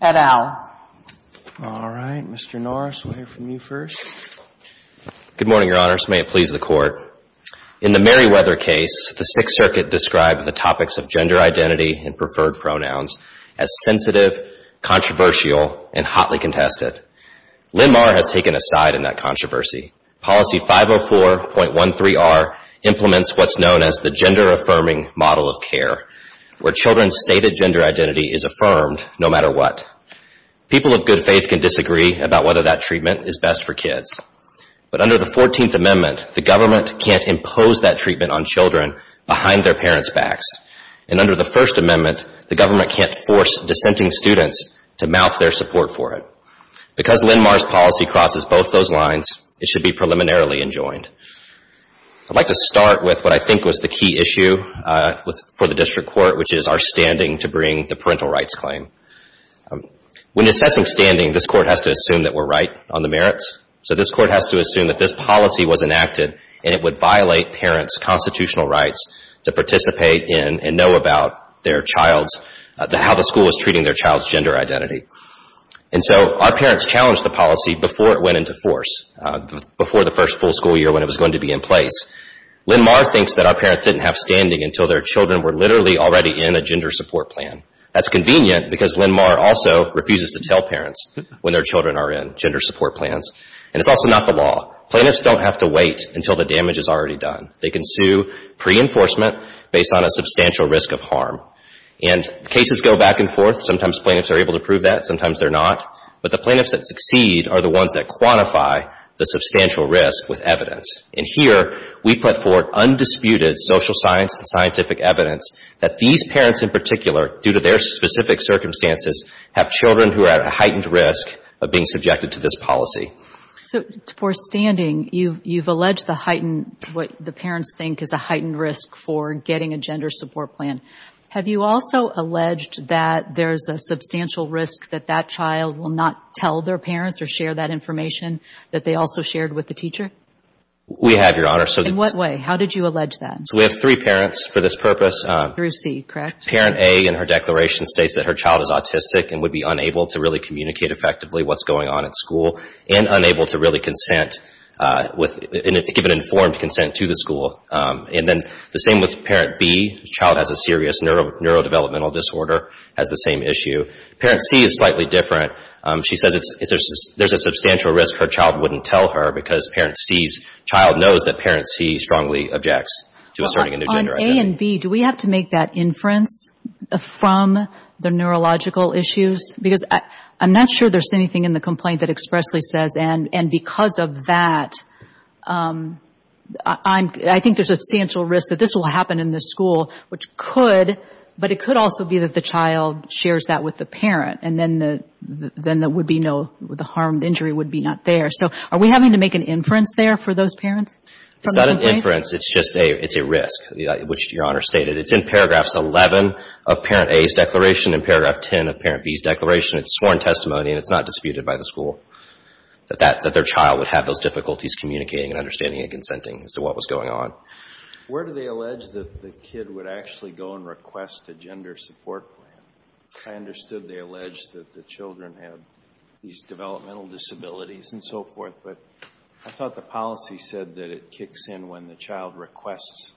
Edow. All right. Mr. Norris, we'll hear from you first. Good morning, Your Honors, may it please the Court. In the Meriwether case, the Sixth Circuit described the topics of gender identity and preferred pronouns as sensitive, controversial, and hotly contested. Linmar has taken a side in that controversy. Policy 504.13r implements what's known as the gender-affirming model of care, where children's stated gender identity is affirmed no matter what. People of good faith can disagree about whether that treatment is best for kids. But under the 14th Amendment, the government can't impose that treatment on children behind their parents' backs. And under the First Amendment, the government can't force dissenting students to mouth their support for it. Because Linmar's policy crosses both those lines, it should be preliminarily enjoined. I'd like to start with what I think was the key issue for the District Court, which is our standing to bring the parental rights claim. When assessing standing, this Court has to assume that we're right on the merits. So this Court has to assume that this policy was enacted and it would violate parents' constitutional rights to participate in and know about their child's, how the school is treating their child's gender identity. And so our parents challenged the policy before it went into force, before the first full school year when it was going to be in place. Linmar thinks that our parents didn't have standing until their children were literally already in a gender support plan. That's convenient because Linmar also refuses to tell parents when their children are in gender support plans. And it's also not the law. Plaintiffs don't have to wait until the damage is already done. They can sue pre-enforcement based on a substantial risk of harm. And cases go back and forth. Sometimes plaintiffs are able to prove that, sometimes they're not. But the plaintiffs that succeed are the ones that quantify the substantial risk with evidence. And here, we put forth undisputed social science and scientific evidence that these parents in particular, due to their specific circumstances, have children who are at a heightened risk of being subjected to this policy. So, for standing, you've alleged the heightened, what the parents think is a heightened risk for getting a gender support plan. Have you also alleged that there's a substantial risk that that child will not tell their parents or share that information that they also shared with the teacher? We have, Your Honor. In what way? How did you allege that? So, we have three parents for this purpose. Through C, correct? Parent A, in her declaration, states that her child is autistic and would be unable to really communicate effectively what's going on at school and unable to really consent with, give an informed consent to the school. And then the same with Parent B. The child has a serious neurodevelopmental disorder, has the same issue. Parent C is slightly different. She says there's a substantial risk her child wouldn't tell her because Parent C's child knows that Parent C strongly objects to asserting a new gender identity. On A and B, do we have to make that inference from the neurological issues? Because I'm not sure there's anything in the complaint that expressly says, and because of that, I think there's a substantial risk that this will happen in the school, which could, but it could also be that the child shares that with the parent. And then there would be no, the harmed injury would be not there. So, are we having to make an inference there for those parents? It's not an inference, it's just a, it's a risk, which Your Honor stated. It's in paragraphs 11 of Parent A's declaration and paragraph 10 of Parent B's declaration. It's sworn testimony and it's not disputed by the school that that, that their child would have those difficulties communicating and understanding and consenting as to what was going on. Where do they allege that the kid would actually go and request a gender support plan? I understood they allege that the children have these developmental disabilities and so forth, but I thought the policy said that it kicks in when the child requests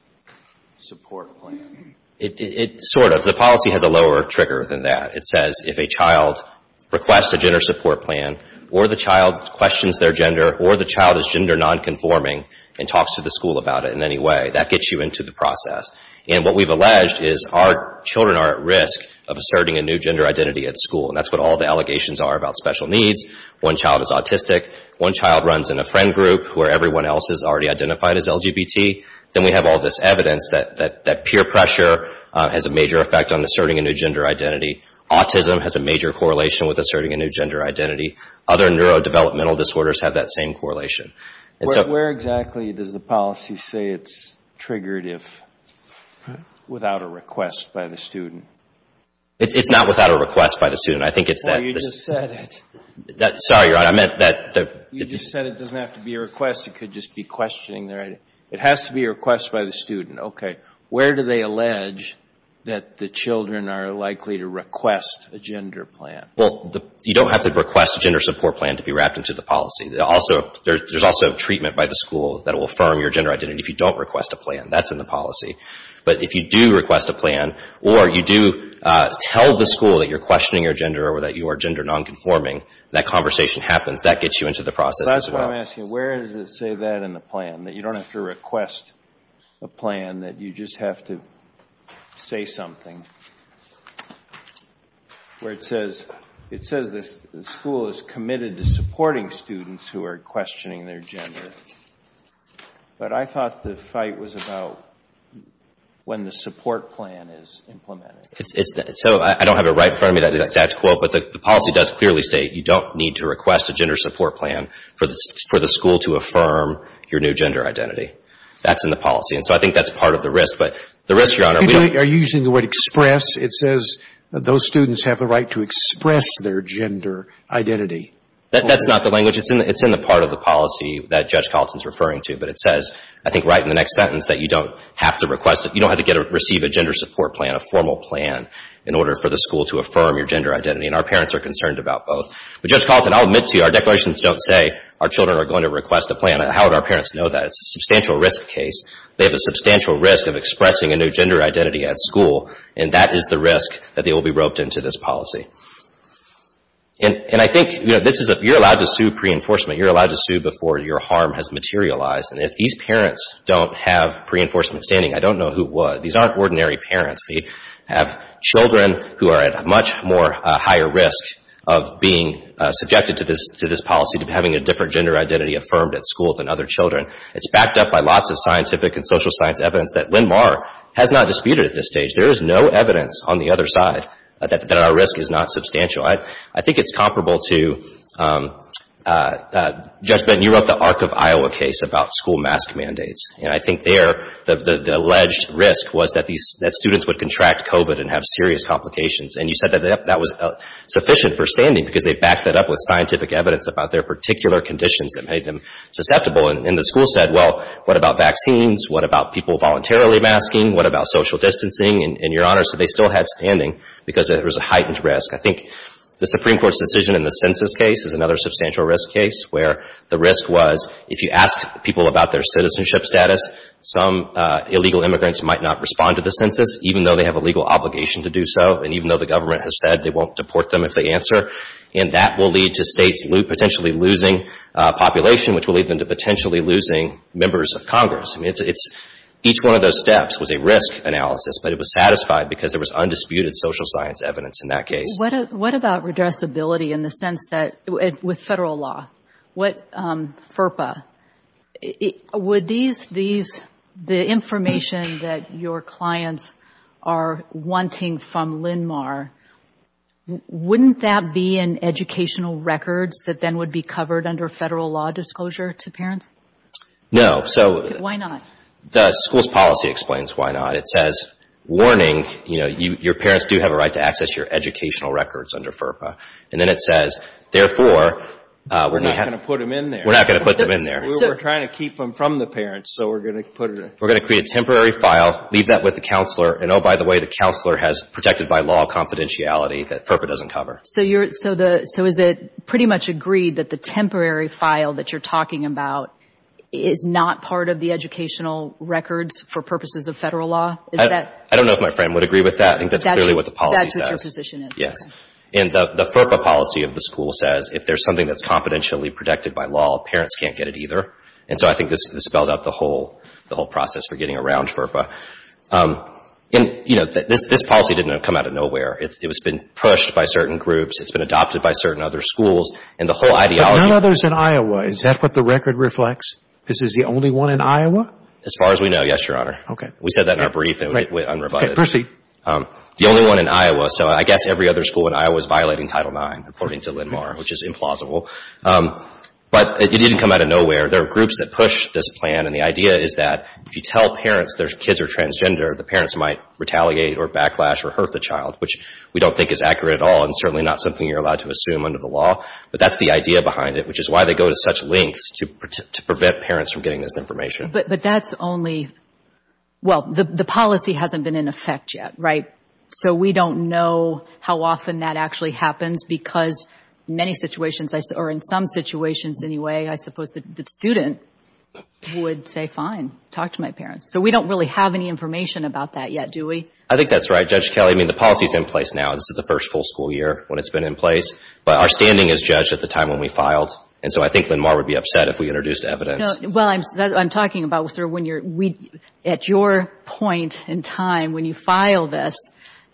a support plan. It, it sort of. The policy has a lower trigger than that. It says if a child requests a gender support plan or the child questions their gender or the child is gender non-conforming and talks to the school about it in any way, that gets you into the process. And what we've alleged is our children are at risk of asserting a new gender identity at school. And that's what all the allegations are about special needs. One child is autistic, one child runs in a friend group where everyone else is already identified as LGBT. Then we have all this evidence that, that peer pressure has a major effect on asserting a new gender identity. Autism has a major correlation with asserting a new gender identity. Other neurodevelopmental disorders have that same correlation. Where exactly does the policy say it's triggered if, without a request by the student? It's not without a request by the student. I think it's that. Well, you just said it. Sorry, Your Honor. I meant that. You just said it doesn't have to be a request. It could just be questioning their identity. It has to be a request by the student. Okay. Where do they allege that the children are likely to request a gender plan? Well, you don't have to request a gender support plan to be wrapped into the policy. There's also treatment by the school that will affirm your gender identity if you don't request a plan. That's in the policy. But if you do request a plan, or you do tell the school that you're questioning your gender or that you are gender non-conforming, that conversation happens. That gets you into the process as well. That's what I'm asking. Where does it say that in the plan, that you don't have to request a plan, that you just have to say something, where it says the school is committed to supporting students who are questioning their gender. But I thought the fight was about when the support plan is implemented. So I don't have it right in front of me, that exact quote, but the policy does clearly state you don't need to request a gender support plan for the school to affirm your new gender identity. That's in the policy. And so I think that's part of the risk. But the risk, Your Honor, we don't – Are you using the word express? It says those students have the right to express their gender identity. That's not the language. It's in the part of the policy that Judge Colleton is referring to. But it says, I think right in the next sentence, that you don't have to request it. You don't have to receive a gender support plan, a formal plan, in order for the school to affirm your gender identity. And our parents are concerned about both. But Judge Colleton, I'll admit to you, our declarations don't say our children are going to request a plan. How would our parents know that? It's a substantial risk case. They have a substantial risk of expressing a new gender identity at school. And that is the risk that they will be roped into this policy. And I think, you know, this is a – you're allowed to sue pre-enforcement. You're allowed to sue before your harm has materialized. And if these parents don't have pre-enforcement standing, I don't know who would. These aren't ordinary parents. They have children who are at a much more higher risk of being subjected to this policy, having a different gender identity affirmed at school than other children. It's backed up by lots of scientific and social science evidence that Linmar has not disputed at this stage. There is no evidence on the other side that our risk is not substantial. I think it's comparable to – Judge Benton, you wrote the Arc of Iowa case about school mask mandates. And I think there, the alleged risk was that students would contract COVID and have serious complications. And you said that that was sufficient for standing because they backed that up with scientific evidence about their particular conditions that made them susceptible. And the school said, well, what about vaccines? What about people voluntarily masking? What about social distancing? And, Your Honor, so they still had standing because there was a heightened risk. I think the Supreme Court's decision in the census case is another substantial risk case where the risk was if you ask people about their citizenship status, some illegal immigrants might not respond to the census, even though they have a legal obligation to do so. And even though the government has said they won't deport them if they answer. And that will lead to states potentially losing population, which will lead them to potentially losing members of Congress. I mean, it's – each one of those steps was a risk analysis, but it was satisfied because there was undisputed social science evidence in that case. What about redressability in the sense that – with Federal law? What – FERPA? Would these – the information that your clients are wanting from LINMAR, wouldn't that be in educational records that then would be covered under Federal law disclosure to parents? No. So – Why not? The school's policy explains why not. It says, warning, you know, your parents do have a right to access your educational records under FERPA. And then it says, therefore, we're not – We're not going to put them in there. We're not going to put them in there. We were trying to keep them from the parents, so we're going to put it in – We're going to create a temporary file, leave that with the counselor, and oh, by the way, the counselor has protected by law confidentiality that FERPA doesn't cover. So you're – So the – So is it pretty much agreed that the temporary file that you're talking about is not part of the educational records for purposes of Federal law? Is that – I don't know if my friend would agree with that. I think that's clearly what the policy says. That's what your position is. Yes. And the FERPA policy of the school says if there's something that's confidentially protected by law, parents can't get it either. And so I think this spells out the whole – the whole process for getting around FERPA. And, you know, this policy didn't come out of nowhere. It's been pushed by certain groups. It's been adopted by certain other schools. And the whole ideology – But none of those in Iowa. Is that what the record reflects? This is the only one in Iowa? As far as we know, yes, Your Honor. Okay. We said that in our brief and it went unrebutted. Okay. Proceed. The only one in Iowa. So I guess every other school in Iowa is violating Title IX, according to Lindmar, which is implausible. But it didn't come out of nowhere. There are groups that push this plan, and the idea is that if you tell parents there's kids or transgender, the parents might retaliate or backlash or hurt the child, which we don't think is accurate at all and certainly not something you're allowed to assume under the law. But that's the idea behind it, which is why they go to such lengths to prevent parents from getting this information. But that's only – Well, the policy hasn't been in effect yet, right? So we don't know how often that actually happens because many situations – or in some situations anyway, I suppose the student would say, fine, talk to my parents. So we don't really have any information about that yet, do we? I think that's right, Judge Kelley. I mean, the policy is in place now. This is the first full school year when it's been in place. But our standing is judged at the time when we filed, and so I think Lindmar would be upset if we introduced evidence. No. Well, I'm talking about sort of when you're – at your point in time when you file this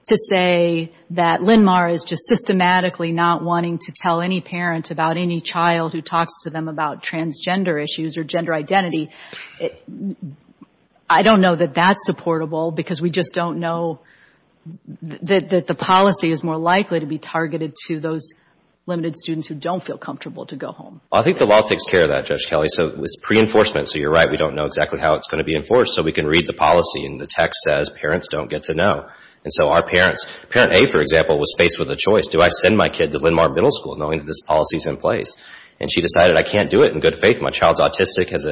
to say that Lindmar is just systematically not wanting to tell any parent about any child who talks to them about transgender issues or gender identity. I don't know that that's supportable because we just don't know that the policy is more likely to be targeted to those limited students who don't feel comfortable to go home. I think the law takes care of that, Judge Kelley. So it's pre-enforcement. So you're right. We don't know exactly how it's going to be enforced. So we can read the policy and the text says parents don't get to know. And so our parents – Parent A, for example, was faced with a choice. Do I send my kid to Lindmar Middle School knowing that this policy is in place? And she decided, I can't do it in good faith. My child's autistic, has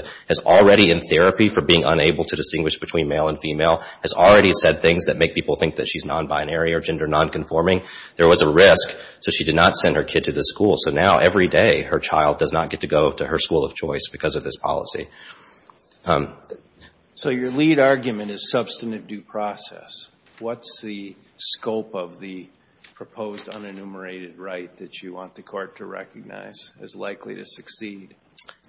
already in therapy for being unable to distinguish between male and female, has already said things that make people think that she's non-binary or gender non-conforming. There was a risk. So she did not send her kid to this school. So now every day her child does not get to go to her school of choice because of this policy. So your lead argument is substantive due process. What's the scope of the proposed unenumerated right that you want the court to recognize as likely to succeed?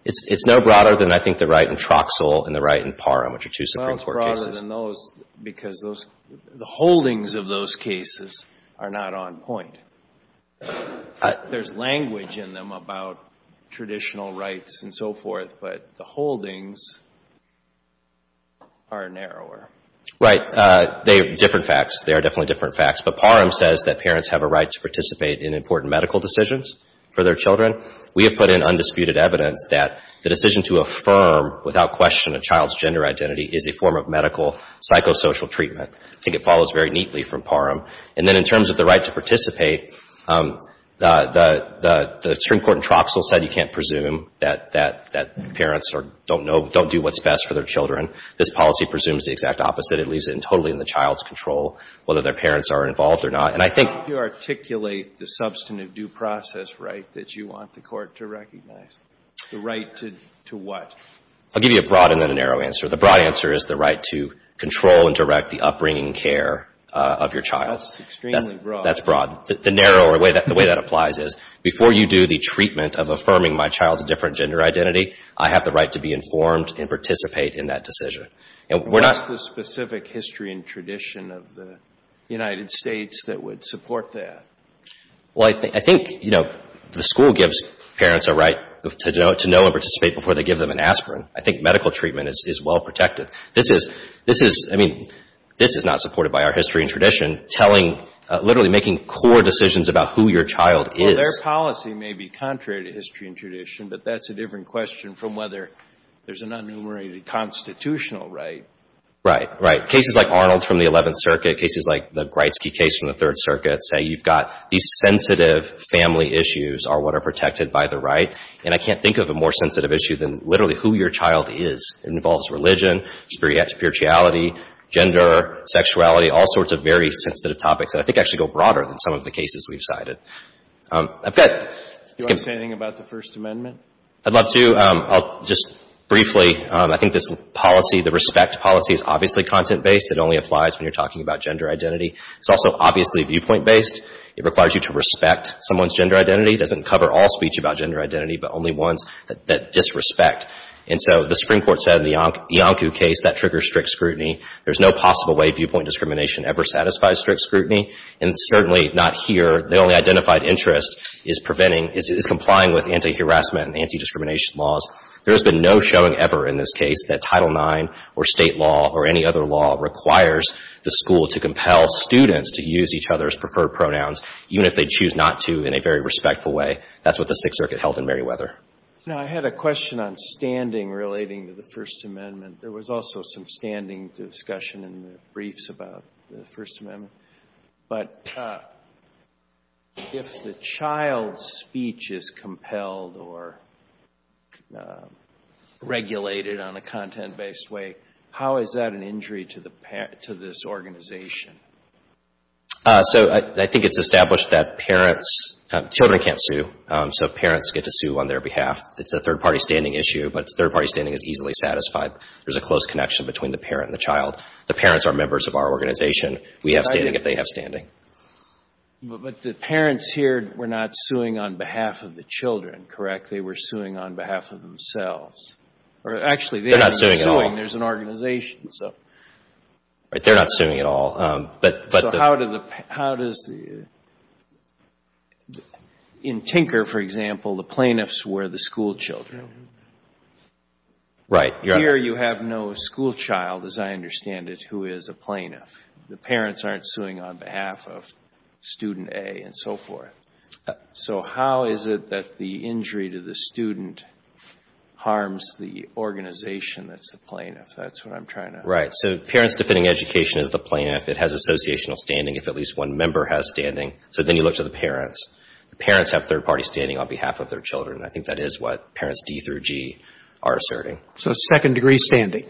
It's no broader than I think the right in Troxell and the right in Parham, which are two Supreme Court cases. Well, it's broader than those because the holdings of those cases are not on point. There's language in them about traditional rights and so forth, but the holdings are narrower. Right. They are different facts. They are definitely different facts. But Parham says that parents have a right to participate in important medical decisions for their children. We have put in undisputed evidence that the decision to affirm without question a child's gender identity is a form of medical psychosocial treatment. I think it follows very neatly from Parham. And then in terms of the right to participate, the Supreme Court in Troxell said you can't presume that parents don't know, don't do what's best for their children. This policy presumes the exact opposite. It leaves it totally in the child's control whether their parents are involved or not. And I think you articulate the substantive due process right that you want the Court to recognize. The right to what? I'll give you a broad and then a narrow answer. The broad answer is the right to control and direct the upbringing care of your child. That's extremely broad. That's broad. The narrow or the way that applies is before you do the treatment of affirming my child's different gender identity, I have the right to be informed and participate in that decision. And we're not What's the specific history and tradition of the United States that would support that? Well, I think, you know, the school gives parents a right to know and participate before they give them an aspirin. I think medical treatment is well protected. This is, I mean, this is not supported by our history and tradition telling, literally making core decisions about who your child is. Well, their policy may be contrary to history and tradition, but that's a different question from whether there's an unenumerated constitutional right. Right. Right. Cases like Arnold from the Eleventh Circuit, cases like the Gretzky case from the Third Circuit say you've got these sensitive family issues are what are protected by the right. And I can't think of a more sensitive issue than literally who your child is. It involves religion, spirituality, gender, sexuality, all sorts of very sensitive topics that I think actually go broader than some of the cases we've cited. I've got Do you want to say anything about the First Amendment? I'd love to. I'll just briefly, I think this policy, the respect policy is obviously content-based. It only applies when you're talking about gender identity. It's also obviously viewpoint-based. It requires you to respect someone's gender identity. It doesn't cover all speech about gender identity, but only ones that disrespect. And so the Supreme Court said in the Iancu case that triggers strict scrutiny. There's no possible way viewpoint discrimination ever satisfies strict scrutiny, and certainly not here. The only identified interest is preventing, is complying with anti-harassment and anti-discrimination laws. There has been no showing ever in this case that Title IX or state law or any other law requires the school to compel students to use each other's preferred pronouns, even if they choose not to in a very respectful way. That's what the Sixth Circuit held in Merriweather. Now, I had a question on standing relating to the First Amendment. There was also some standing discussion in the briefs about the First Amendment. But if the child's speech is compelled or regulated on a content-based way, how is that an injury to this organization? So, I think it's established that parents—children can't sue, so parents get to sue on their behalf. It's a third-party standing issue, but third-party standing is easily satisfied. There's a close connection between the parent and the child. The parents are members of our organization. We have standing if they have standing. But the parents here were not suing on behalf of the children, correct? They were suing on behalf of themselves. Or, actually, they're not suing at all. They're not suing. There's an organization, so. They're not suing at all. But the— So, how does the—in Tinker, for example, the plaintiffs were the schoolchildren. Right. Here, you have no schoolchild, as I understand it, who is a plaintiff. The parents aren't suing on behalf of student A and so forth. So, how is it that the injury to the student harms the organization that's the plaintiff? That's what I'm trying to— Right. So, parents defending education as the plaintiff, it has associational standing if at least one member has standing. So, then you look to the parents. The parents have third-party standing on behalf of their children. I think that is what parents D through G are asserting. So, second-degree standing?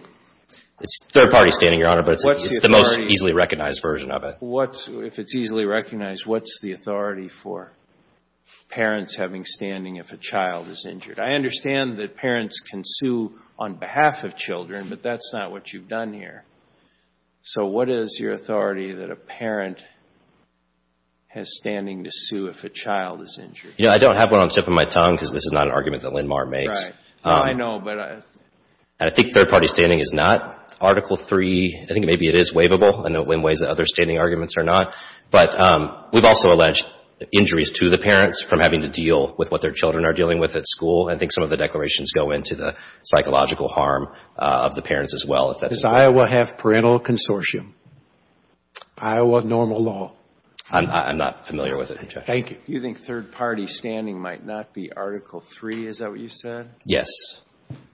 It's third-party standing, Your Honor, but it's the most easily satisfied. It's the most easily recognized version of it. If it's easily recognized, what's the authority for parents having standing if a child is injured? I understand that parents can sue on behalf of children, but that's not what you've done here. So, what is your authority that a parent has standing to sue if a child is injured? You know, I don't have one on the tip of my tongue because this is not an argument that Linmar makes. Right. I know, but I— And I think third-party standing is not. Article III, I think maybe it is waivable in ways that other standing arguments are not. But we've also alleged injuries to the parents from having to deal with what their children are dealing with at school. I think some of the declarations go into the psychological harm of the parents as well if that's— Does Iowa have parental consortium? Iowa normal law? I'm not familiar with it, Your Honor. Thank you. You think third-party standing might not be Article III? Is that what you said? Yes.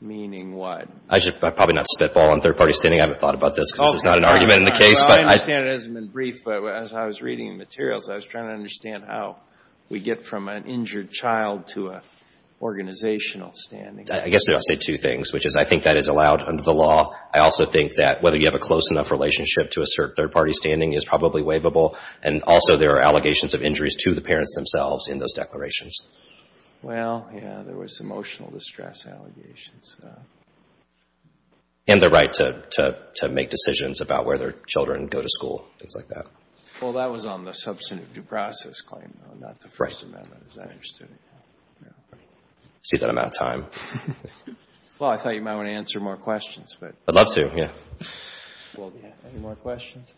Meaning what? I should probably not spitball on third-party standing. I haven't thought about this because it's not an argument in the case, but I— Well, I understand it hasn't been briefed, but as I was reading the materials, I was trying to understand how we get from an injured child to an organizational standing. I guess I'll say two things, which is I think that is allowed under the law. I also think that whether you have a close enough relationship to assert third-party standing is probably waivable, and also there are allegations of injuries to the parents themselves in those declarations. Well, yeah. There was emotional distress allegations. And the right to make decisions about where their children go to school, things like that. Well, that was on the substantive due process claim, though, not the First Amendment, as I understood it. I see that I'm out of time. Well, I thought you might want to answer more questions, but— I'd love to, yeah. Well, yeah. Any more questions?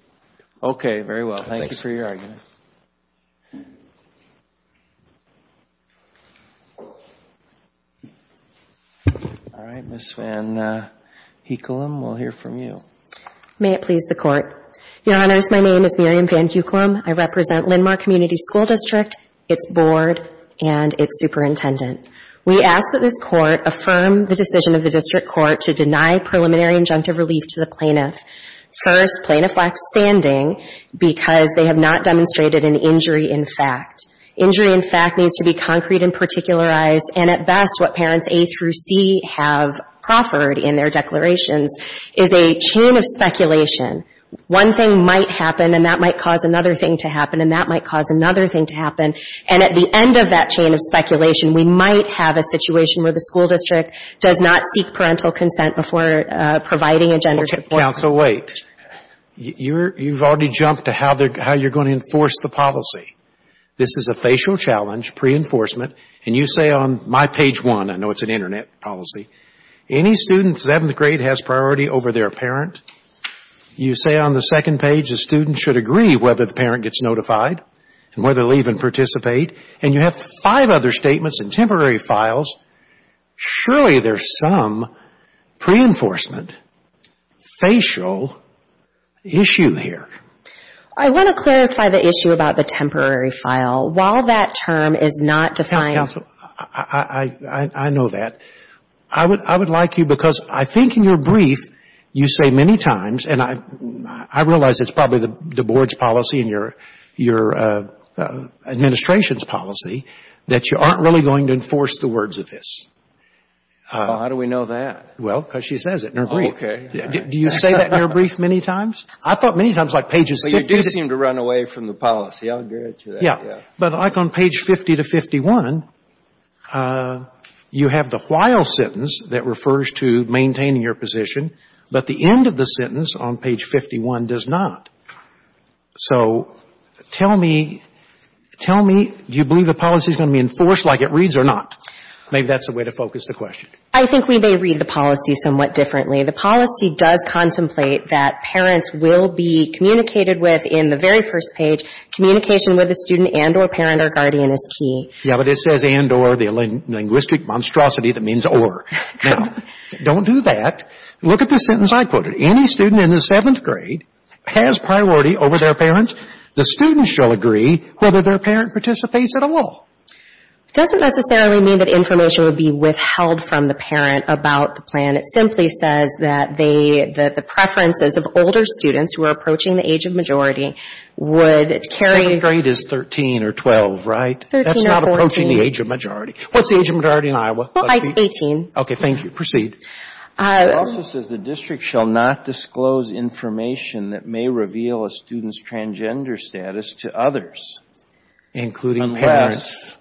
Okay, very well. Thank you for your argument. All right, Ms. Van Heukelum, we'll hear from you. May it please the Court. Your Honors, my name is Miriam Van Heukelum. I represent Linn-Mar Community School District, its board, and its superintendent. We ask that this Court affirm the decision of the District Court to deny preliminary injunctive relief to the plaintiff. First, plaintiff lacks standing because they have not demonstrated an injury in fact. Injury in fact needs to be contemplated. Concrete and particularized. And at best, what parents A through C have proffered in their declarations is a chain of speculation. One thing might happen, and that might cause another thing to happen, and that might cause another thing to happen. And at the end of that chain of speculation, we might have a situation where the school district does not seek parental consent before providing a gender support— Okay, counsel, wait. You've already jumped to how you're going to enforce the policy. This is a facial challenge, pre-enforcement. And you say on my page one, I know it's an internet policy, any student, 7th grade, has priority over their parent. You say on the second page the student should agree whether the parent gets notified and whether they'll even participate. And you have five other statements and temporary files. Surely there's some pre-enforcement, facial issue here. I want to clarify the issue about the temporary file. While that term is not defined— Counsel, I know that. I would like you, because I think in your brief, you say many times, and I realize it's probably the board's policy and your administration's policy, that you aren't really going to enforce the words of this. Well, how do we know that? Well, because she says it in her brief. Oh, okay. Do you say that in your brief many times? I thought many times like pages— But you do seem to run away from the policy. I'll get to that. Yeah. But like on page 50 to 51, you have the while sentence that refers to maintaining your position, but the end of the sentence on page 51 does not. So tell me, do you believe the policy is going to be enforced like it reads or not? Maybe that's the way to focus the question. I think we may read the policy somewhat differently. The policy does contemplate that parents will be communicated with in the very first page. Communication with a student and or parent or guardian is key. Yeah, but it says and or, the linguistic monstrosity that means or. Now, don't do that. Look at the sentence I quoted. Any student in the seventh grade has priority over their parents. The student shall agree whether their parent participates at all. It doesn't necessarily mean that information will be withheld from the parent about the plan. It simply says that the preferences of older students who are approaching the age of majority would carry. Seventh grade is 13 or 12, right? 13 or 14. That's not approaching the age of majority. What's the age of majority in Iowa? Well, I'd say 18. Okay, thank you. Proceed. It also says the district shall not disclose information that may reveal a student's transgender status to others. Including parents.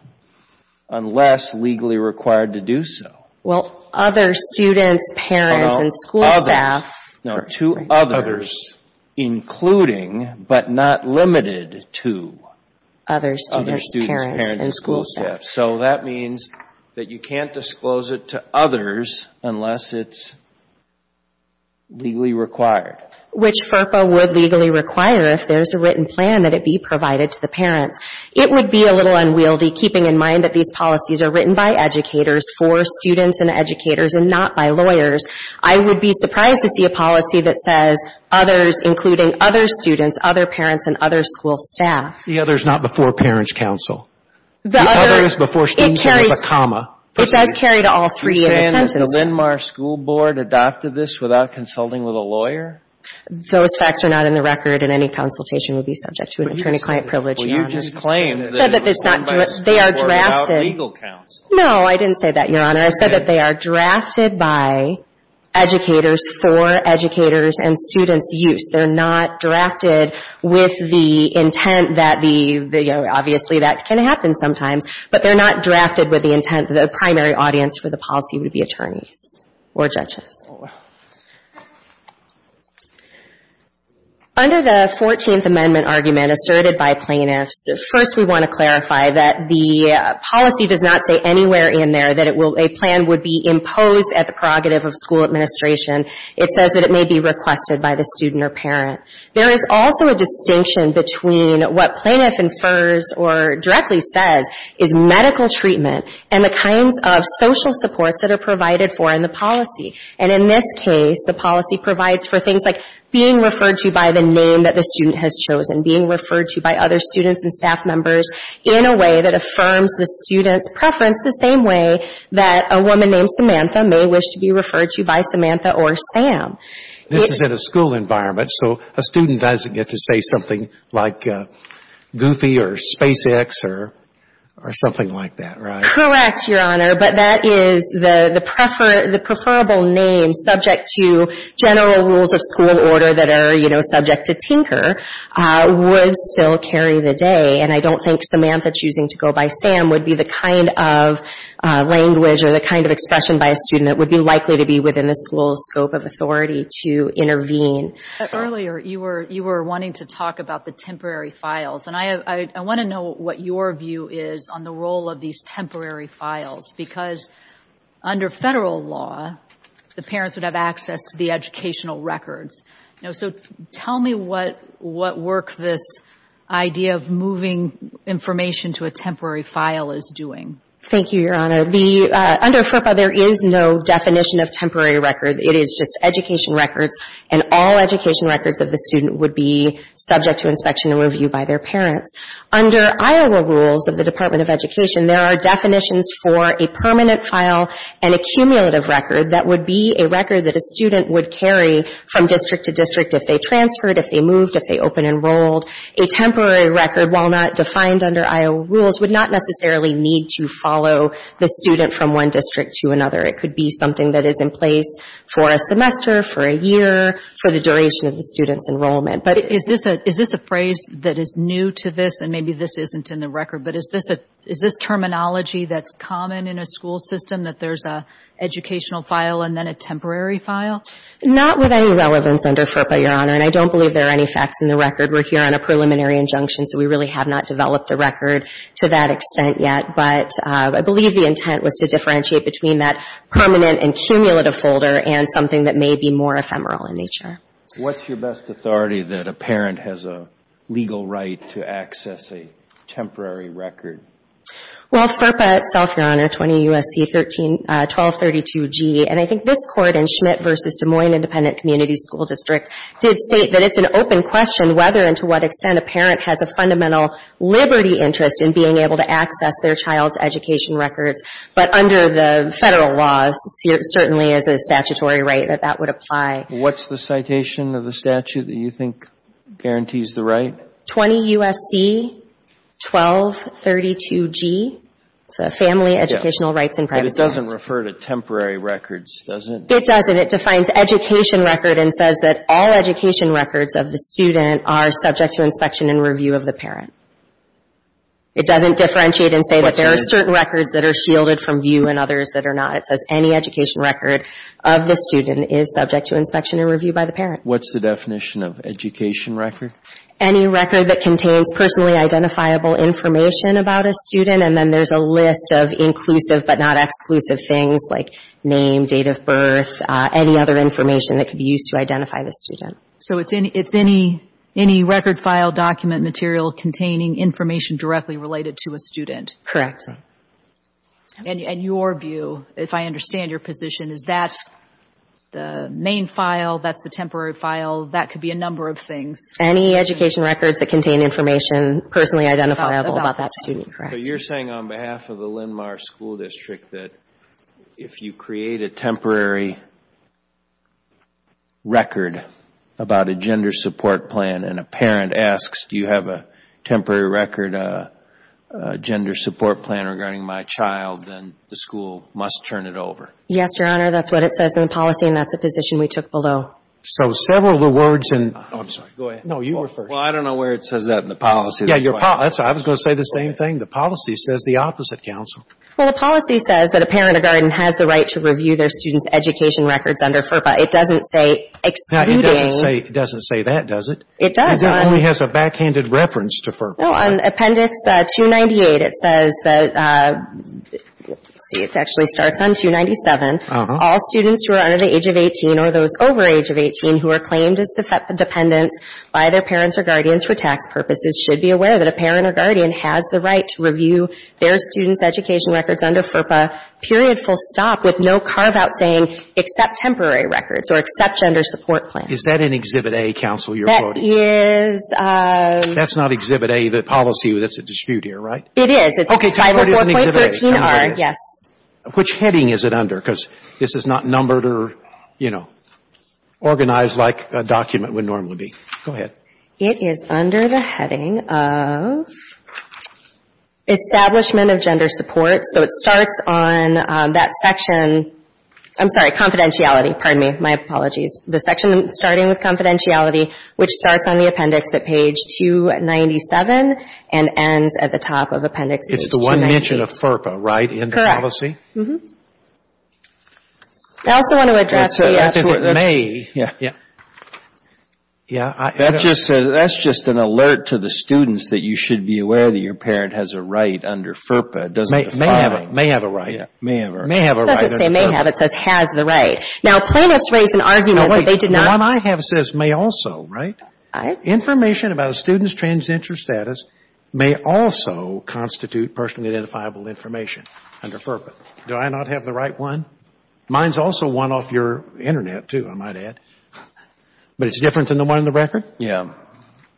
Unless legally required to do so. Well, other students, parents, and school staff. No, to others. Including, but not limited to, other students, parents, and school staff. So, that means that you can't disclose it to others unless it's legally required. Which FERPA would legally require if there's a written plan that it be provided to the parents. It would be a little unwieldy, keeping in mind that these policies are written by educators for students and educators, and not by lawyers. I would be surprised to see a policy that says others, including other students, other parents, and other school staff. The other's not before parents' counsel. The other is before students with a comma. It does carry to all three in a sentence. Do you understand that the Windmar School Board adopted this without consulting with a lawyer? Those facts are not in the record, and any consultation would be subject to an attorney-client privilege. Well, you just claimed that it was done by a school board without legal counsel. No, I didn't say that, Your Honor. I said that they are drafted by educators for educators and students' use. They're not drafted with the intent that the, you know, obviously that can happen sometimes, but they're not drafted with the intent that the primary audience for the policy would be attorneys or judges. Under the 14th Amendment argument asserted by plaintiffs, first we want to clarify that the policy does not say anywhere in there that a plan would be imposed at the prerogative of school administration. It says that it may be requested by the student or parent. There is also a distinction between what plaintiff infers or directly says is medical treatment and the kinds of social supports that are provided for in the policy. And in this case, the policy provides for things like being referred to by the name that the student has chosen, being referred to by other students and staff members in a way that affirms the student's preference the same way that a woman named Samantha may wish to be referred to by Samantha or Sam. This is in a school environment, so a student doesn't get to say something like Goofy or SpaceX or something like that, right? Correct, Your Honor. But that is the preferable name subject to general rules of school order that are, you know, subject to tinker would still carry the day. And I don't think Samantha choosing to go by Sam would be the kind of language or the kind of expression by a student that would be likely to be within the school's scope of authority to intervene. Earlier, you were wanting to talk about the temporary files. And I want to know what your view is on the role of these temporary files, because under federal law, the parents would have access to the educational records. So tell me what work this idea of moving information to a temporary file is doing. Thank you, Your Honor. Under FERPA, there is no definition of temporary record. It is just education records, and all education records of the student would be subject to inspection and review by their parents. Under Iowa rules of the Department of Education, there are definitions for a permanent file and a cumulative record that would be a record that a student would carry from district to district if they transferred, if they moved, if they open enrolled. A temporary record, while not defined under Iowa rules, would not necessarily need to follow the student from one district to another. It could be something that is in place for a semester, for a year, for the duration of the student's enrollment. But is this a phrase that is new to this, and maybe this isn't in the record, but is this terminology that's common in a school system, that there's an educational file and then a temporary file? Not with any relevance under FERPA, Your Honor. And I don't believe there are any facts in the record. We're here on a preliminary injunction, so we really have not developed the record to that extent yet. But I believe the intent was to differentiate between that permanent and cumulative folder and something that may be more ephemeral in nature. What's your best authority that a parent has a legal right to access a temporary record? Well, FERPA itself, Your Honor, 20 U.S.C. 1232-G, and I think this Court in Schmidt v. Des Moines Independent Community School District did state that it's an open question whether and to what extent a parent has a fundamental liberty interest in being able to access their child's education records. But under the federal laws, it certainly is a statutory right that that would apply. What's the citation of the statute that you think guarantees the right? 20 U.S.C. 1232-G. It's a Family Educational Rights and Privacy Act. But it doesn't refer to temporary records, does it? It doesn't. It defines education record and says that all education records of the student are subject to inspection and review of the parent. It doesn't differentiate and say that there are certain records that are shielded from view and others that are not. It says any education record of the student is subject to inspection and review by the parent. What's the definition of education record? Any record that contains personally identifiable information about a student and then there's a list of inclusive but not exclusive things like name, date of birth, any other information that could be used to identify the student. So it's any record, file, document, material containing information directly related to a student? Correct. And your view, if I understand your position, is that's the main file, that's the temporary file, that could be a number of things? Any education records that contain information personally identifiable about that student. Correct. So you're saying on behalf of the Linn-Marr School District that if you create a temporary record about a gender support plan and a parent asks, do you have a temporary record, a gender support plan regarding my child, then the school must turn it over? Yes, Your Honor. That's what it says in the policy and that's the position we took below. So several of the words and — I'm sorry. Go ahead. No, you were first. Well, I don't know where it says that in the policy. I was going to say the same thing. The policy says the opposite, Counsel. Well, the policy says that a parent or guardian has the right to review their student's education records under FERPA. It doesn't say excluding — It doesn't say that, does it? It does, Your Honor. It only has a backhanded reference to FERPA. No, on Appendix 298 it says that — let's see, it actually starts on 297. All students who are under the age of 18 or those over age of 18 who are claimed as dependents by their parents or guardians for tax purposes should be aware that a parent or guardian has the right to review their student's education records under FERPA, period, full stop, with no carve-out saying except temporary records or except gender support plans. Is that in Exhibit A, Counsel, you're quoting? That is — That's not Exhibit A, the policy. That's a dispute here, right? It's 504.13R. Okay. So it is in Exhibit A. Yes. Which heading is it under? Because this is not numbered or, you know, organized like a document would normally be. Go ahead. It is under the heading of Establishment of Gender Support. So it starts on that section — I'm sorry, Confidentiality. Pardon me. My apologies. The section starting with Confidentiality, which starts on the Appendix at page 297 and ends at the top of Appendix 298. It's the one mention of FERPA, right, in the policy? Correct. Mm-hmm. I also want to address the — That's what — May. Yeah. Yeah. That's just an alert to the students that you should be aware that your parent has a right under FERPA. It doesn't define — May have a right. Yeah. May have a right. It doesn't say may have. It says has the right. Now, plaintiffs raised an argument that they did not — Wait. The one I have says may also, right? All right. Information about a student's transgender status may also constitute personally identifiable information under FERPA. Do I not have the right one? Mine's also one off your Internet, too, I might add. But it's different than the one in the record? Yeah.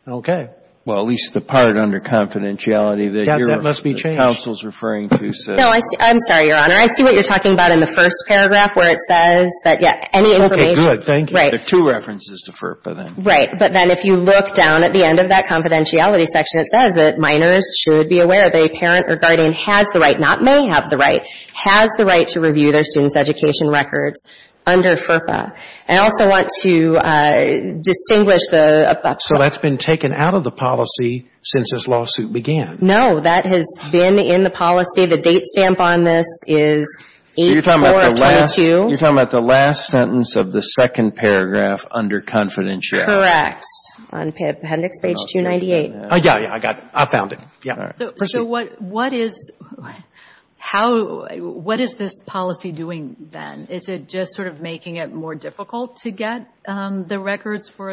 Okay. Well, at least the part under Confidentiality that you're — That must be changed. The counsel's referring to says — No. I'm sorry, Your Honor. I see what you're talking about in the first paragraph where it says that, yeah, any information — Okay. Good. Thank you. Right. There are two references to FERPA then. Right. But then if you look down at the end of that Confidentiality section, it says that minors should be aware that a parent or guardian has the right, not may have the right, has the right to review their student's education records under FERPA. I also want to distinguish the — So that's been taken out of the policy since this lawsuit began? No. That has been in the policy. The date stamp on this is 8-4-22. So you're talking about the last — You're talking about the last sentence of the second paragraph under Confidentiality. Correct. On appendix page 298. Yeah, yeah. I got it. I found it. Yeah. All right. Proceed. So what is — How — What is this policy doing then? Is it just sort of making it more difficult to get the records for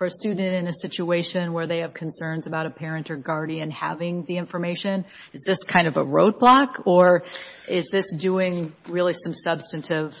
a student in a situation where they have concerns about a parent or guardian having the information? Is this kind of a roadblock or is this doing really some substantive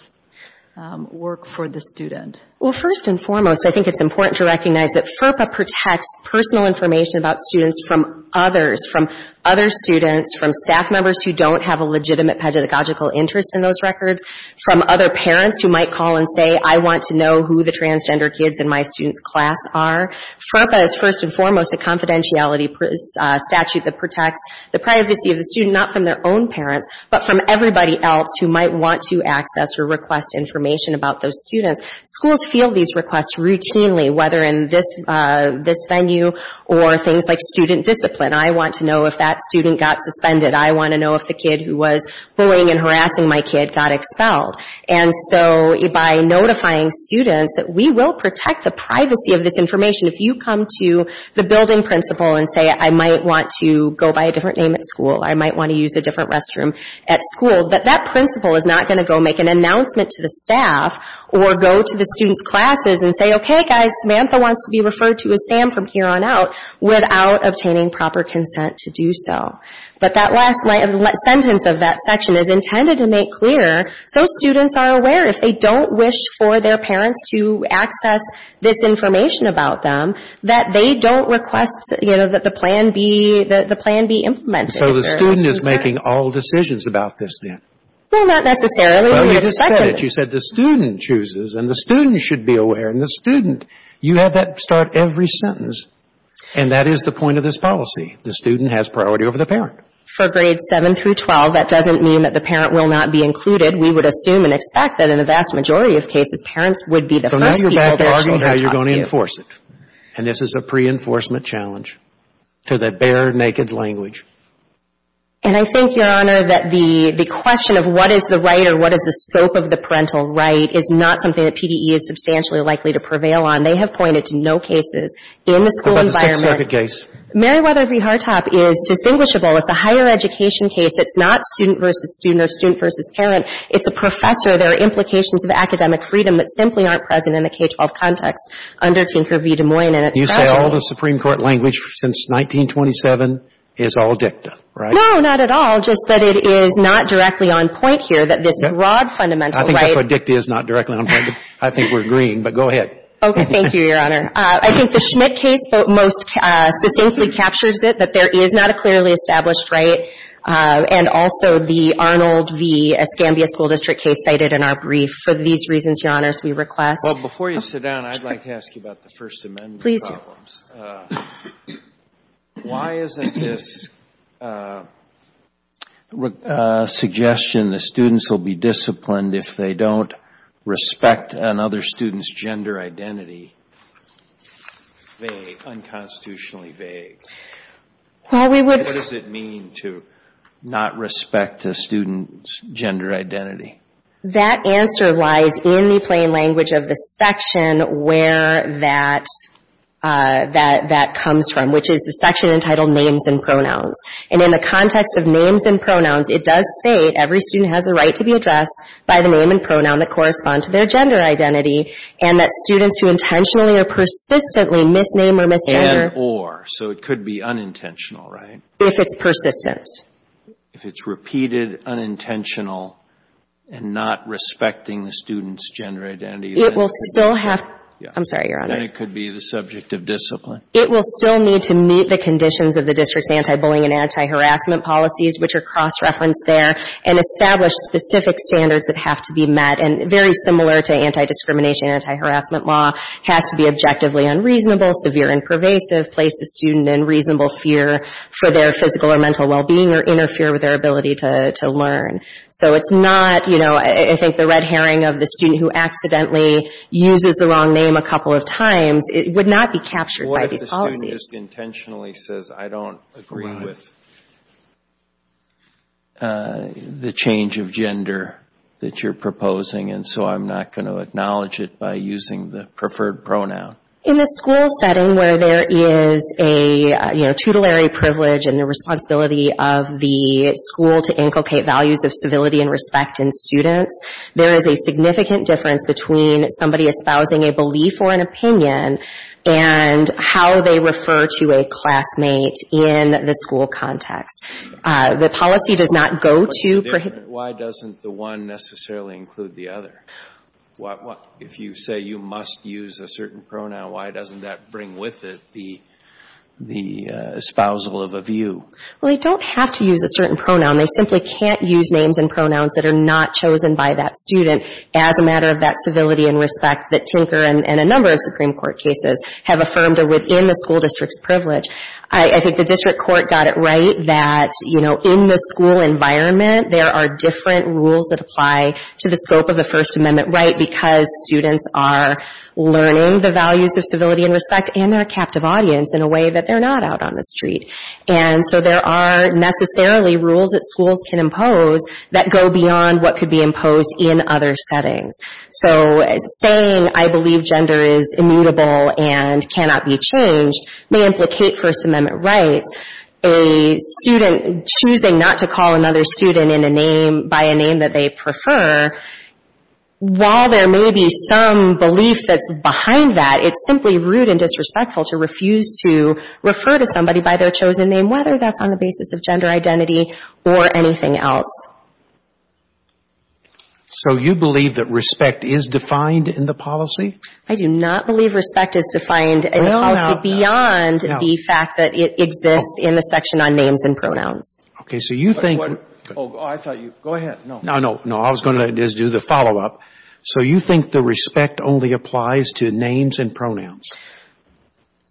work for the student? Well, first and foremost, I think it's important to recognize that FERPA protects personal information about students from others, from other students, from staff members who don't have a legitimate pedagogical interest in those records, from other parents who might call and say, I want to know who the transgender kids in my student's class are. FERPA is first and foremost a confidentiality statute that protects the privacy of the student, not from their own parents, but from everybody else who might want to access or request information about those students. Schools field these requests routinely, whether in this venue or things like student discipline. I want to know if that student got suspended. I want to know if the kid who was bullying and harassing my kid got expelled. And so by notifying students that we will protect the privacy of this information, if you come to the building principal and say, I might want to go by a different name at school, I might want to use a different restroom at school, that that principal is not going to go make an announcement to the staff or go to the student's classes and say, okay guys, Samantha wants to be referred to as Sam from here on out, without obtaining proper consent to do so. But that last sentence of that section is intended to make clear so students are aware if they don't wish for their parents to access this information about them, that they don't request that the plan be implemented. So the student is making all decisions about this then? Well, not necessarily. We expected it. Well, you just said it. You said the student chooses, and the student should be aware, and the student. You have that start every sentence. And that is the point of this policy. The student has priority over the parent. For grades 7 through 12, that doesn't mean that the parent will not be included. We would assume and expect that in the vast majority of cases, parents would be the first people they're actually going to talk to. So now you're back to arguing how you're going to enforce it. And this is a pre-enforcement challenge to the bare naked language. And I think, Your Honor, that the question of what is the right or what is the scope of the parental right is not something that PDE is substantially likely to prevail on. They have pointed to no cases in the school environment. What about the Sixth Circuit case? Meriwether v. Hartop is distinguishable. It's a higher education case. It's not student versus student or student versus parent. It's a professor. There are implications of academic freedom that simply aren't present in the K-12 context under Tinker v. Des Moines. And it's not true. And you say all the Supreme Court language since 1927 is all dicta, right? No, not at all. Just that it is not directly on point here that this broad fundamental right — I think that's what dicta is, not directly on point. I think we're agreeing. But go ahead. Okay. Thank you, Your Honor. I think the Schmitt case most succinctly captures it, that there is not a clearly established right. And also the Arnold v. Escambia School District case cited in our brief. For these reasons, Your Honor, as we request — Well, before you sit down, I'd like to ask you about the First Amendment. Please do. Why isn't this suggestion that students will be disciplined if they don't respect another student's gender identity unconstitutionally vague? What does it mean to not respect a student's gender identity? That answer lies in the plain language of the section where that comes from, which is the section entitled Names and Pronouns. And in the context of names and pronouns, it does state every student has a right to be addressed by the name and pronoun that correspond to their gender identity and that students who intentionally or persistently misname or misgender — And or. So it could be unintentional, right? If it's persistent. If it's repeated, unintentional, and not respecting the student's gender identity, then — It will still have — I'm sorry, Your Honor. Then it could be the subject of discipline. It will still need to meet the conditions of the district's anti-bullying and anti-harassment policies, which are cross-referenced there, and establish specific standards that have to be met. And very similar to anti-discrimination and anti-harassment law, has to be objectively unreasonable, severe and pervasive, place the student in reasonable fear for their physical or mental well-being or interfere with their ability to learn. So it's not, you know, I think the red herring of the student who accidentally uses the wrong name a couple of times, it would not be captured by these policies. What if the student just intentionally says, I don't agree with the change of gender that you're proposing, and so I'm not going to acknowledge it by using the preferred pronoun? In the school setting where there is a, you know, tutelary privilege and the responsibility of the school to inculcate values of civility and respect in students, there is a significant difference between somebody espousing a belief or an opinion and how they refer to a classmate in the school context. The policy does not go to — Why doesn't the one necessarily include the other? If you say you must use a certain pronoun, why doesn't that bring with it the espousal of a view? Well, they don't have to use a certain pronoun. They simply can't use names and pronouns that are not chosen by that student as a matter of that civility and respect that Tinker and a number of Supreme Court cases have affirmed are within the school district's privilege. I think the district court got it right that, you know, in the school environment there are different rules that apply to the scope of the First Amendment right because students are learning the values of civility and respect, and they're a captive audience in a way that they're not out on the street. And so there are necessarily rules that schools can impose that go beyond what could be imposed in other settings. So saying, I believe gender is immutable and cannot be changed may implicate First Amendment rights. A student choosing not to call another student in a name — by a name that they prefer, while there may be some belief that's behind that, it's simply rude and disrespectful to refuse to refer to somebody by their chosen name, whether that's on the basis of gender identity or anything else. So you believe that respect is defined in the policy? I do not believe respect is defined in the policy beyond the fact that it exists in the section on names and pronouns. Okay. So you think — Oh, I thought you — go ahead. No. No, no, no. I was going to just do the follow-up. So you think the respect only applies to names and pronouns?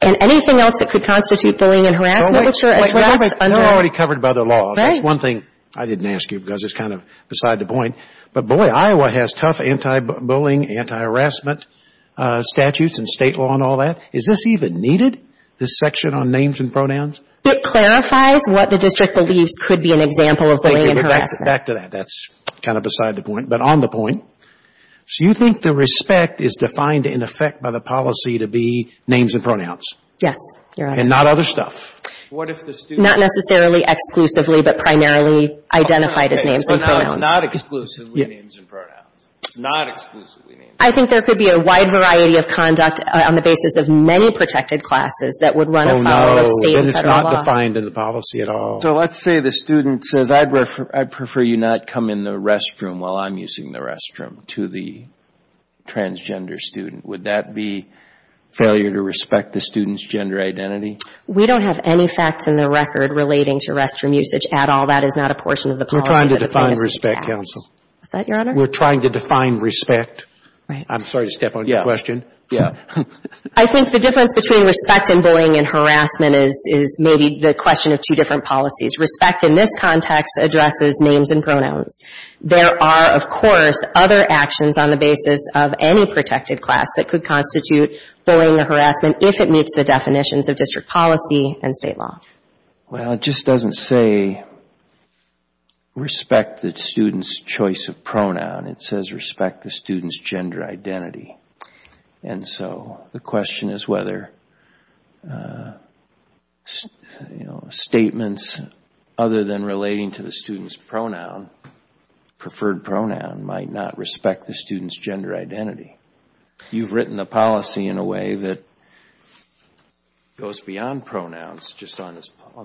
And anything else that could constitute bullying and harassment, which are addressed under — They're already covered by the laws. Right. That's one thing I didn't ask you because it's kind of beside the point. But boy, Iowa has tough anti-bullying, anti-harassment statutes and state law and all that. Is this even needed, this section on names and pronouns? It clarifies what the district believes could be an example of bullying and harassment. Back to that. That's kind of beside the point. But on the point, so you think the respect is defined in effect by the policy to be names and pronouns? Yes. Your Honor. And not other stuff? What if the student — Not necessarily exclusively, but primarily identified as names and pronouns. Not exclusively names and pronouns. Not exclusively names and pronouns. I think there could be a wide variety of conduct on the basis of many protected classes that would run a follow-up state and federal law. Oh, no. Then it's not defined in the policy at all. So let's say the student says, I'd prefer you not come in the restroom while I'm using the restroom to the transgender student. Would that be failure to respect the student's gender identity? We don't have any facts in the record relating to restroom usage at all. That is not a portion of the policy. We're trying to define respect, Counsel. What's that, Your Honor? We're trying to define respect. Right. I'm sorry to step on your question. Yeah. Yeah. I think the difference between respect and bullying and harassment is maybe the question of two different policies. Respect in this context addresses names and pronouns. There are, of course, other actions on the basis of any protected class that could constitute bullying or harassment if it meets the definitions of district policy and state law. Well, it just doesn't say respect the student's choice of pronoun. It says respect the student's gender identity. And so the question is whether statements other than relating to the student's pronoun, preferred pronoun, might not respect the student's gender identity. You've written a policy in a way that goes beyond pronouns just on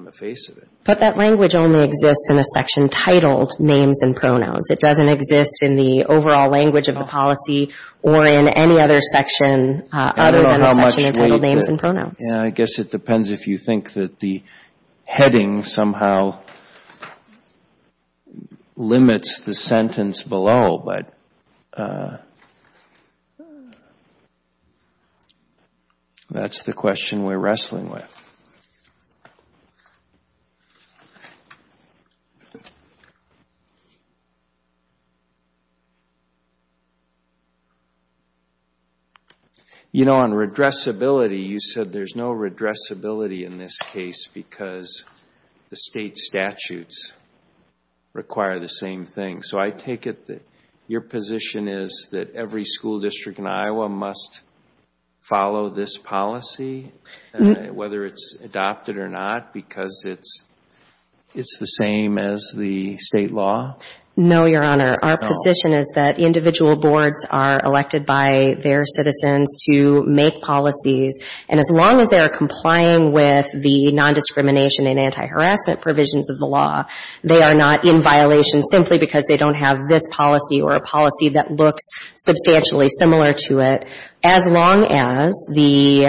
the face of it. But that language only exists in a section titled Names and Pronouns. It doesn't exist in the overall language of the policy or in any other section other than the section titled Names and Pronouns. Yeah. I guess it depends if you think that the heading somehow limits the sentence below. But that's the question we're wrestling with. You know, on redressability, you said there's no redressability in this case because the state statutes require the same thing. So I take it that your position is that every school district in Iowa must follow this policy, whether it's adopted or not, because it's the same as the state law? No, Your Honor. Our position is that individual boards are elected by their citizens to make policies. And as long as they are complying with the nondiscrimination and anti-harassment provisions of the law, they are not in violation simply because they don't have this policy or a policy that looks substantially similar to it, as long as the,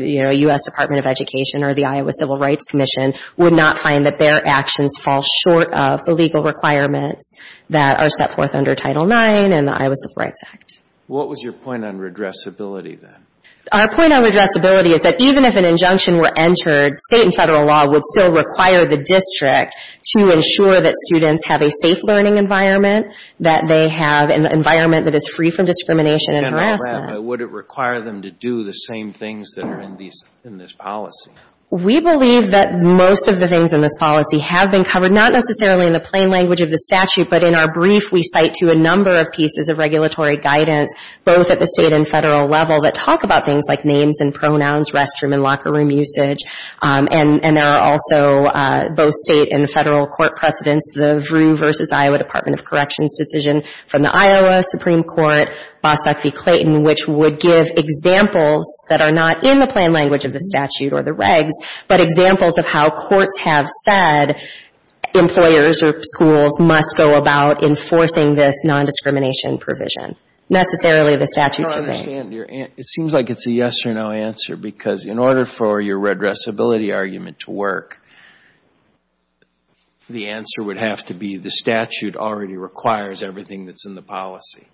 you know, U.S. Department of Education or the Iowa Civil Rights Commission would not find that their actions fall short of the legal requirements that are set forth under Title IX and the Iowa Civil Rights Act. What was your point on redressability then? Our point on redressability is that even if an injunction were entered, state and federal law would still require the district to ensure that students have a safe learning environment, that they have an environment that is free from discrimination and harassment. General Rapp, would it require them to do the same things that are in this policy? We believe that most of the things in this policy have been covered, not necessarily in the plain language of the statute, but in our brief we cite to a number of pieces of regulatory guidance, both at the state and federal level, that talk about things like names and pronouns, restroom and locker room usage, and there are also both state and federal court precedents, the Vrew v. Iowa Department of Corrections decision from the Iowa Supreme Court, Bostock v. Clayton, which would give examples that are not in the plain language of the statute or the regs, but examples of how courts have said employers or schools must go about enforcing this nondiscrimination provision, necessarily the statutes are made. It seems like it's a yes or no answer, because in order for your redressability argument to work, the answer would have to be the statute already requires everything that's in the policy.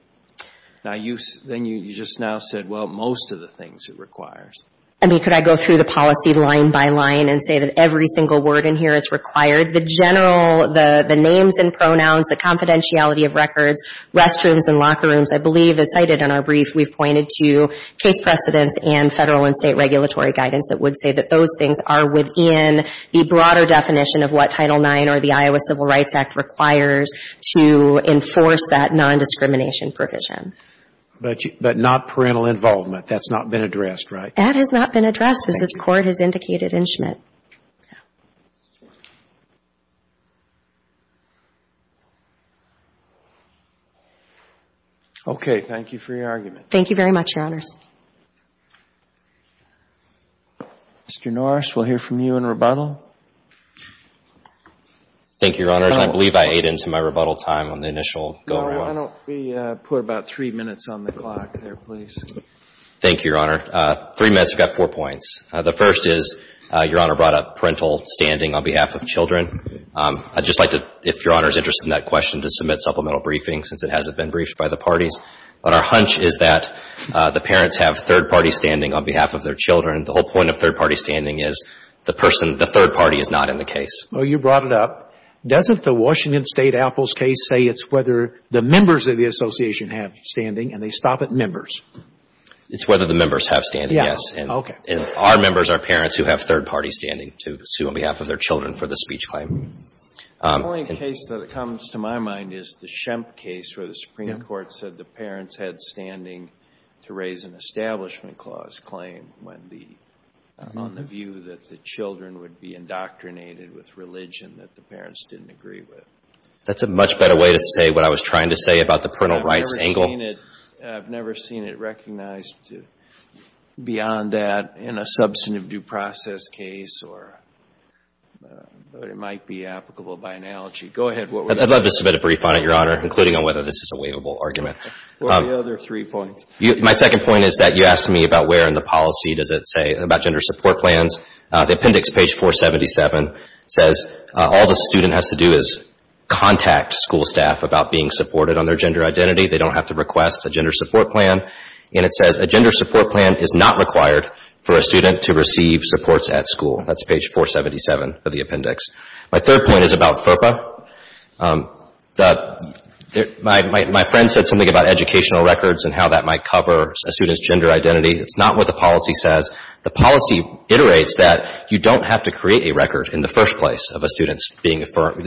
Now, you just now said, well, most of the things it requires. I mean, could I go through the policy line by line and say that every single word in here is required? The general, the names and pronouns, the confidentiality of records, restrooms and locker rooms, I think you pointed to case precedents and federal and state regulatory guidance that would say that those things are within the broader definition of what Title IX or the Iowa Civil Rights Act requires to enforce that nondiscrimination provision. But not parental involvement. That's not been addressed, right? That has not been addressed, as this Court has indicated in Schmidt. Okay, thank you for your argument. Thank you very much, Your Honors. Mr. Norris, we'll hear from you in rebuttal. Thank you, Your Honors. I believe I ate into my rebuttal time on the initial go-around. No, why don't we put about three minutes on the clock there, please? Thank you, Your Honor. Three minutes. I've got four points. The first is, Your Honor brought up parental standing on behalf of children. I'd just like to, if Your Honor is interested in that question, to submit supplemental briefings, since it hasn't been briefed by the parties. But our hunch is that the parents have third-party standing on behalf of their children. The whole point of third-party standing is the person, the third party is not in the case. Well, you brought it up. Doesn't the Washington State Apples case say it's whether the members of the association have standing, and they stop at members? It's whether the members have standing, yes. Yeah, okay. And our members are parents who have third-party standing to sue on behalf of their children for the speech claim. The only case that comes to my mind is the Shemp case, where the Supreme Court said the parents had standing to raise an Establishment Clause claim on the view that the children would be indoctrinated with religion that the parents didn't agree with. That's a much better way to say what I was trying to say about the parental rights angle. I've never seen it recognized beyond that in a substantive due process case, or it might be applicable by analogy. Go ahead. I'd love to submit a brief on it, Your Honor, including on whether this is a waivable argument. What are the other three points? My second point is that you asked me about where in the policy does it say about gender support plans. The appendix, page 477, says all the student has to do is contact school staff about being supported on their gender identity. They don't have to request a gender support plan. And it says a gender support plan is not required for a student to receive supports at school. That's page 477 of the appendix. My third point is about FERPA. My friend said something about educational records and how that might cover a student's gender identity. It's not what the policy says. The policy iterates that you don't have to create a record in the first place of a student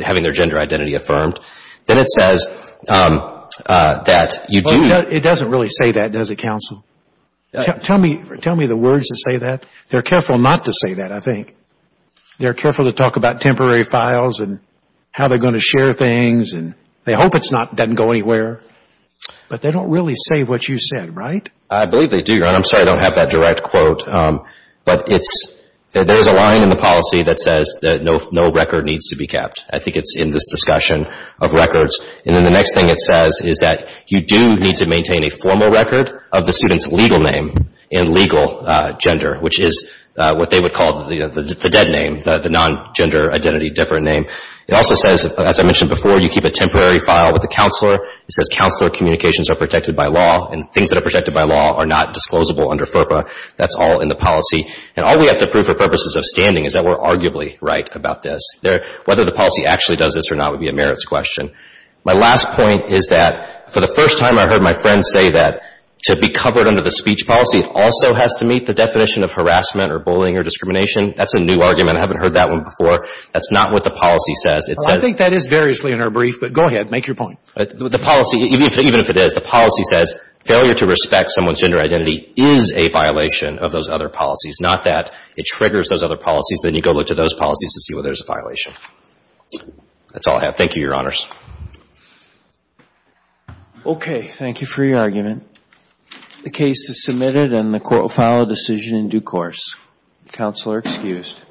having their gender identity affirmed. Then it says that you do. It doesn't really say that, does it, counsel? Tell me the words that say that. They're careful not to say that, I think. They're careful to talk about temporary files and how they're going to share things. They hope it doesn't go anywhere. But they don't really say what you said, right? I believe they do, Your Honor. I'm sorry I don't have that direct quote. But there's a line in the policy that says that no record needs to be kept. I think it's in this discussion of records. And then the next thing it says is that you do need to maintain a formal record of the dead name, the non-gender identity different name. It also says, as I mentioned before, you keep a temporary file with the counselor. It says counselor communications are protected by law and things that are protected by law are not disclosable under FERPA. That's all in the policy. And all we have to prove for purposes of standing is that we're arguably right about this. Whether the policy actually does this or not would be a merits question. My last point is that for the first time I heard my friend say that to be covered under the speech policy also has to meet the definition of harassment or bullying or discrimination. That's a new argument. I haven't heard that one before. That's not what the policy says. I think that is variously in our brief. But go ahead. Make your point. The policy, even if it is, the policy says failure to respect someone's gender identity is a violation of those other policies. Not that it triggers those other policies. Then you go look to those policies to see where there's a violation. That's all I have. Thank you, Your Honors. Okay. Thank you for your argument. The case is submitted and the court will file a decision in due course. Counselor excused. Thank you.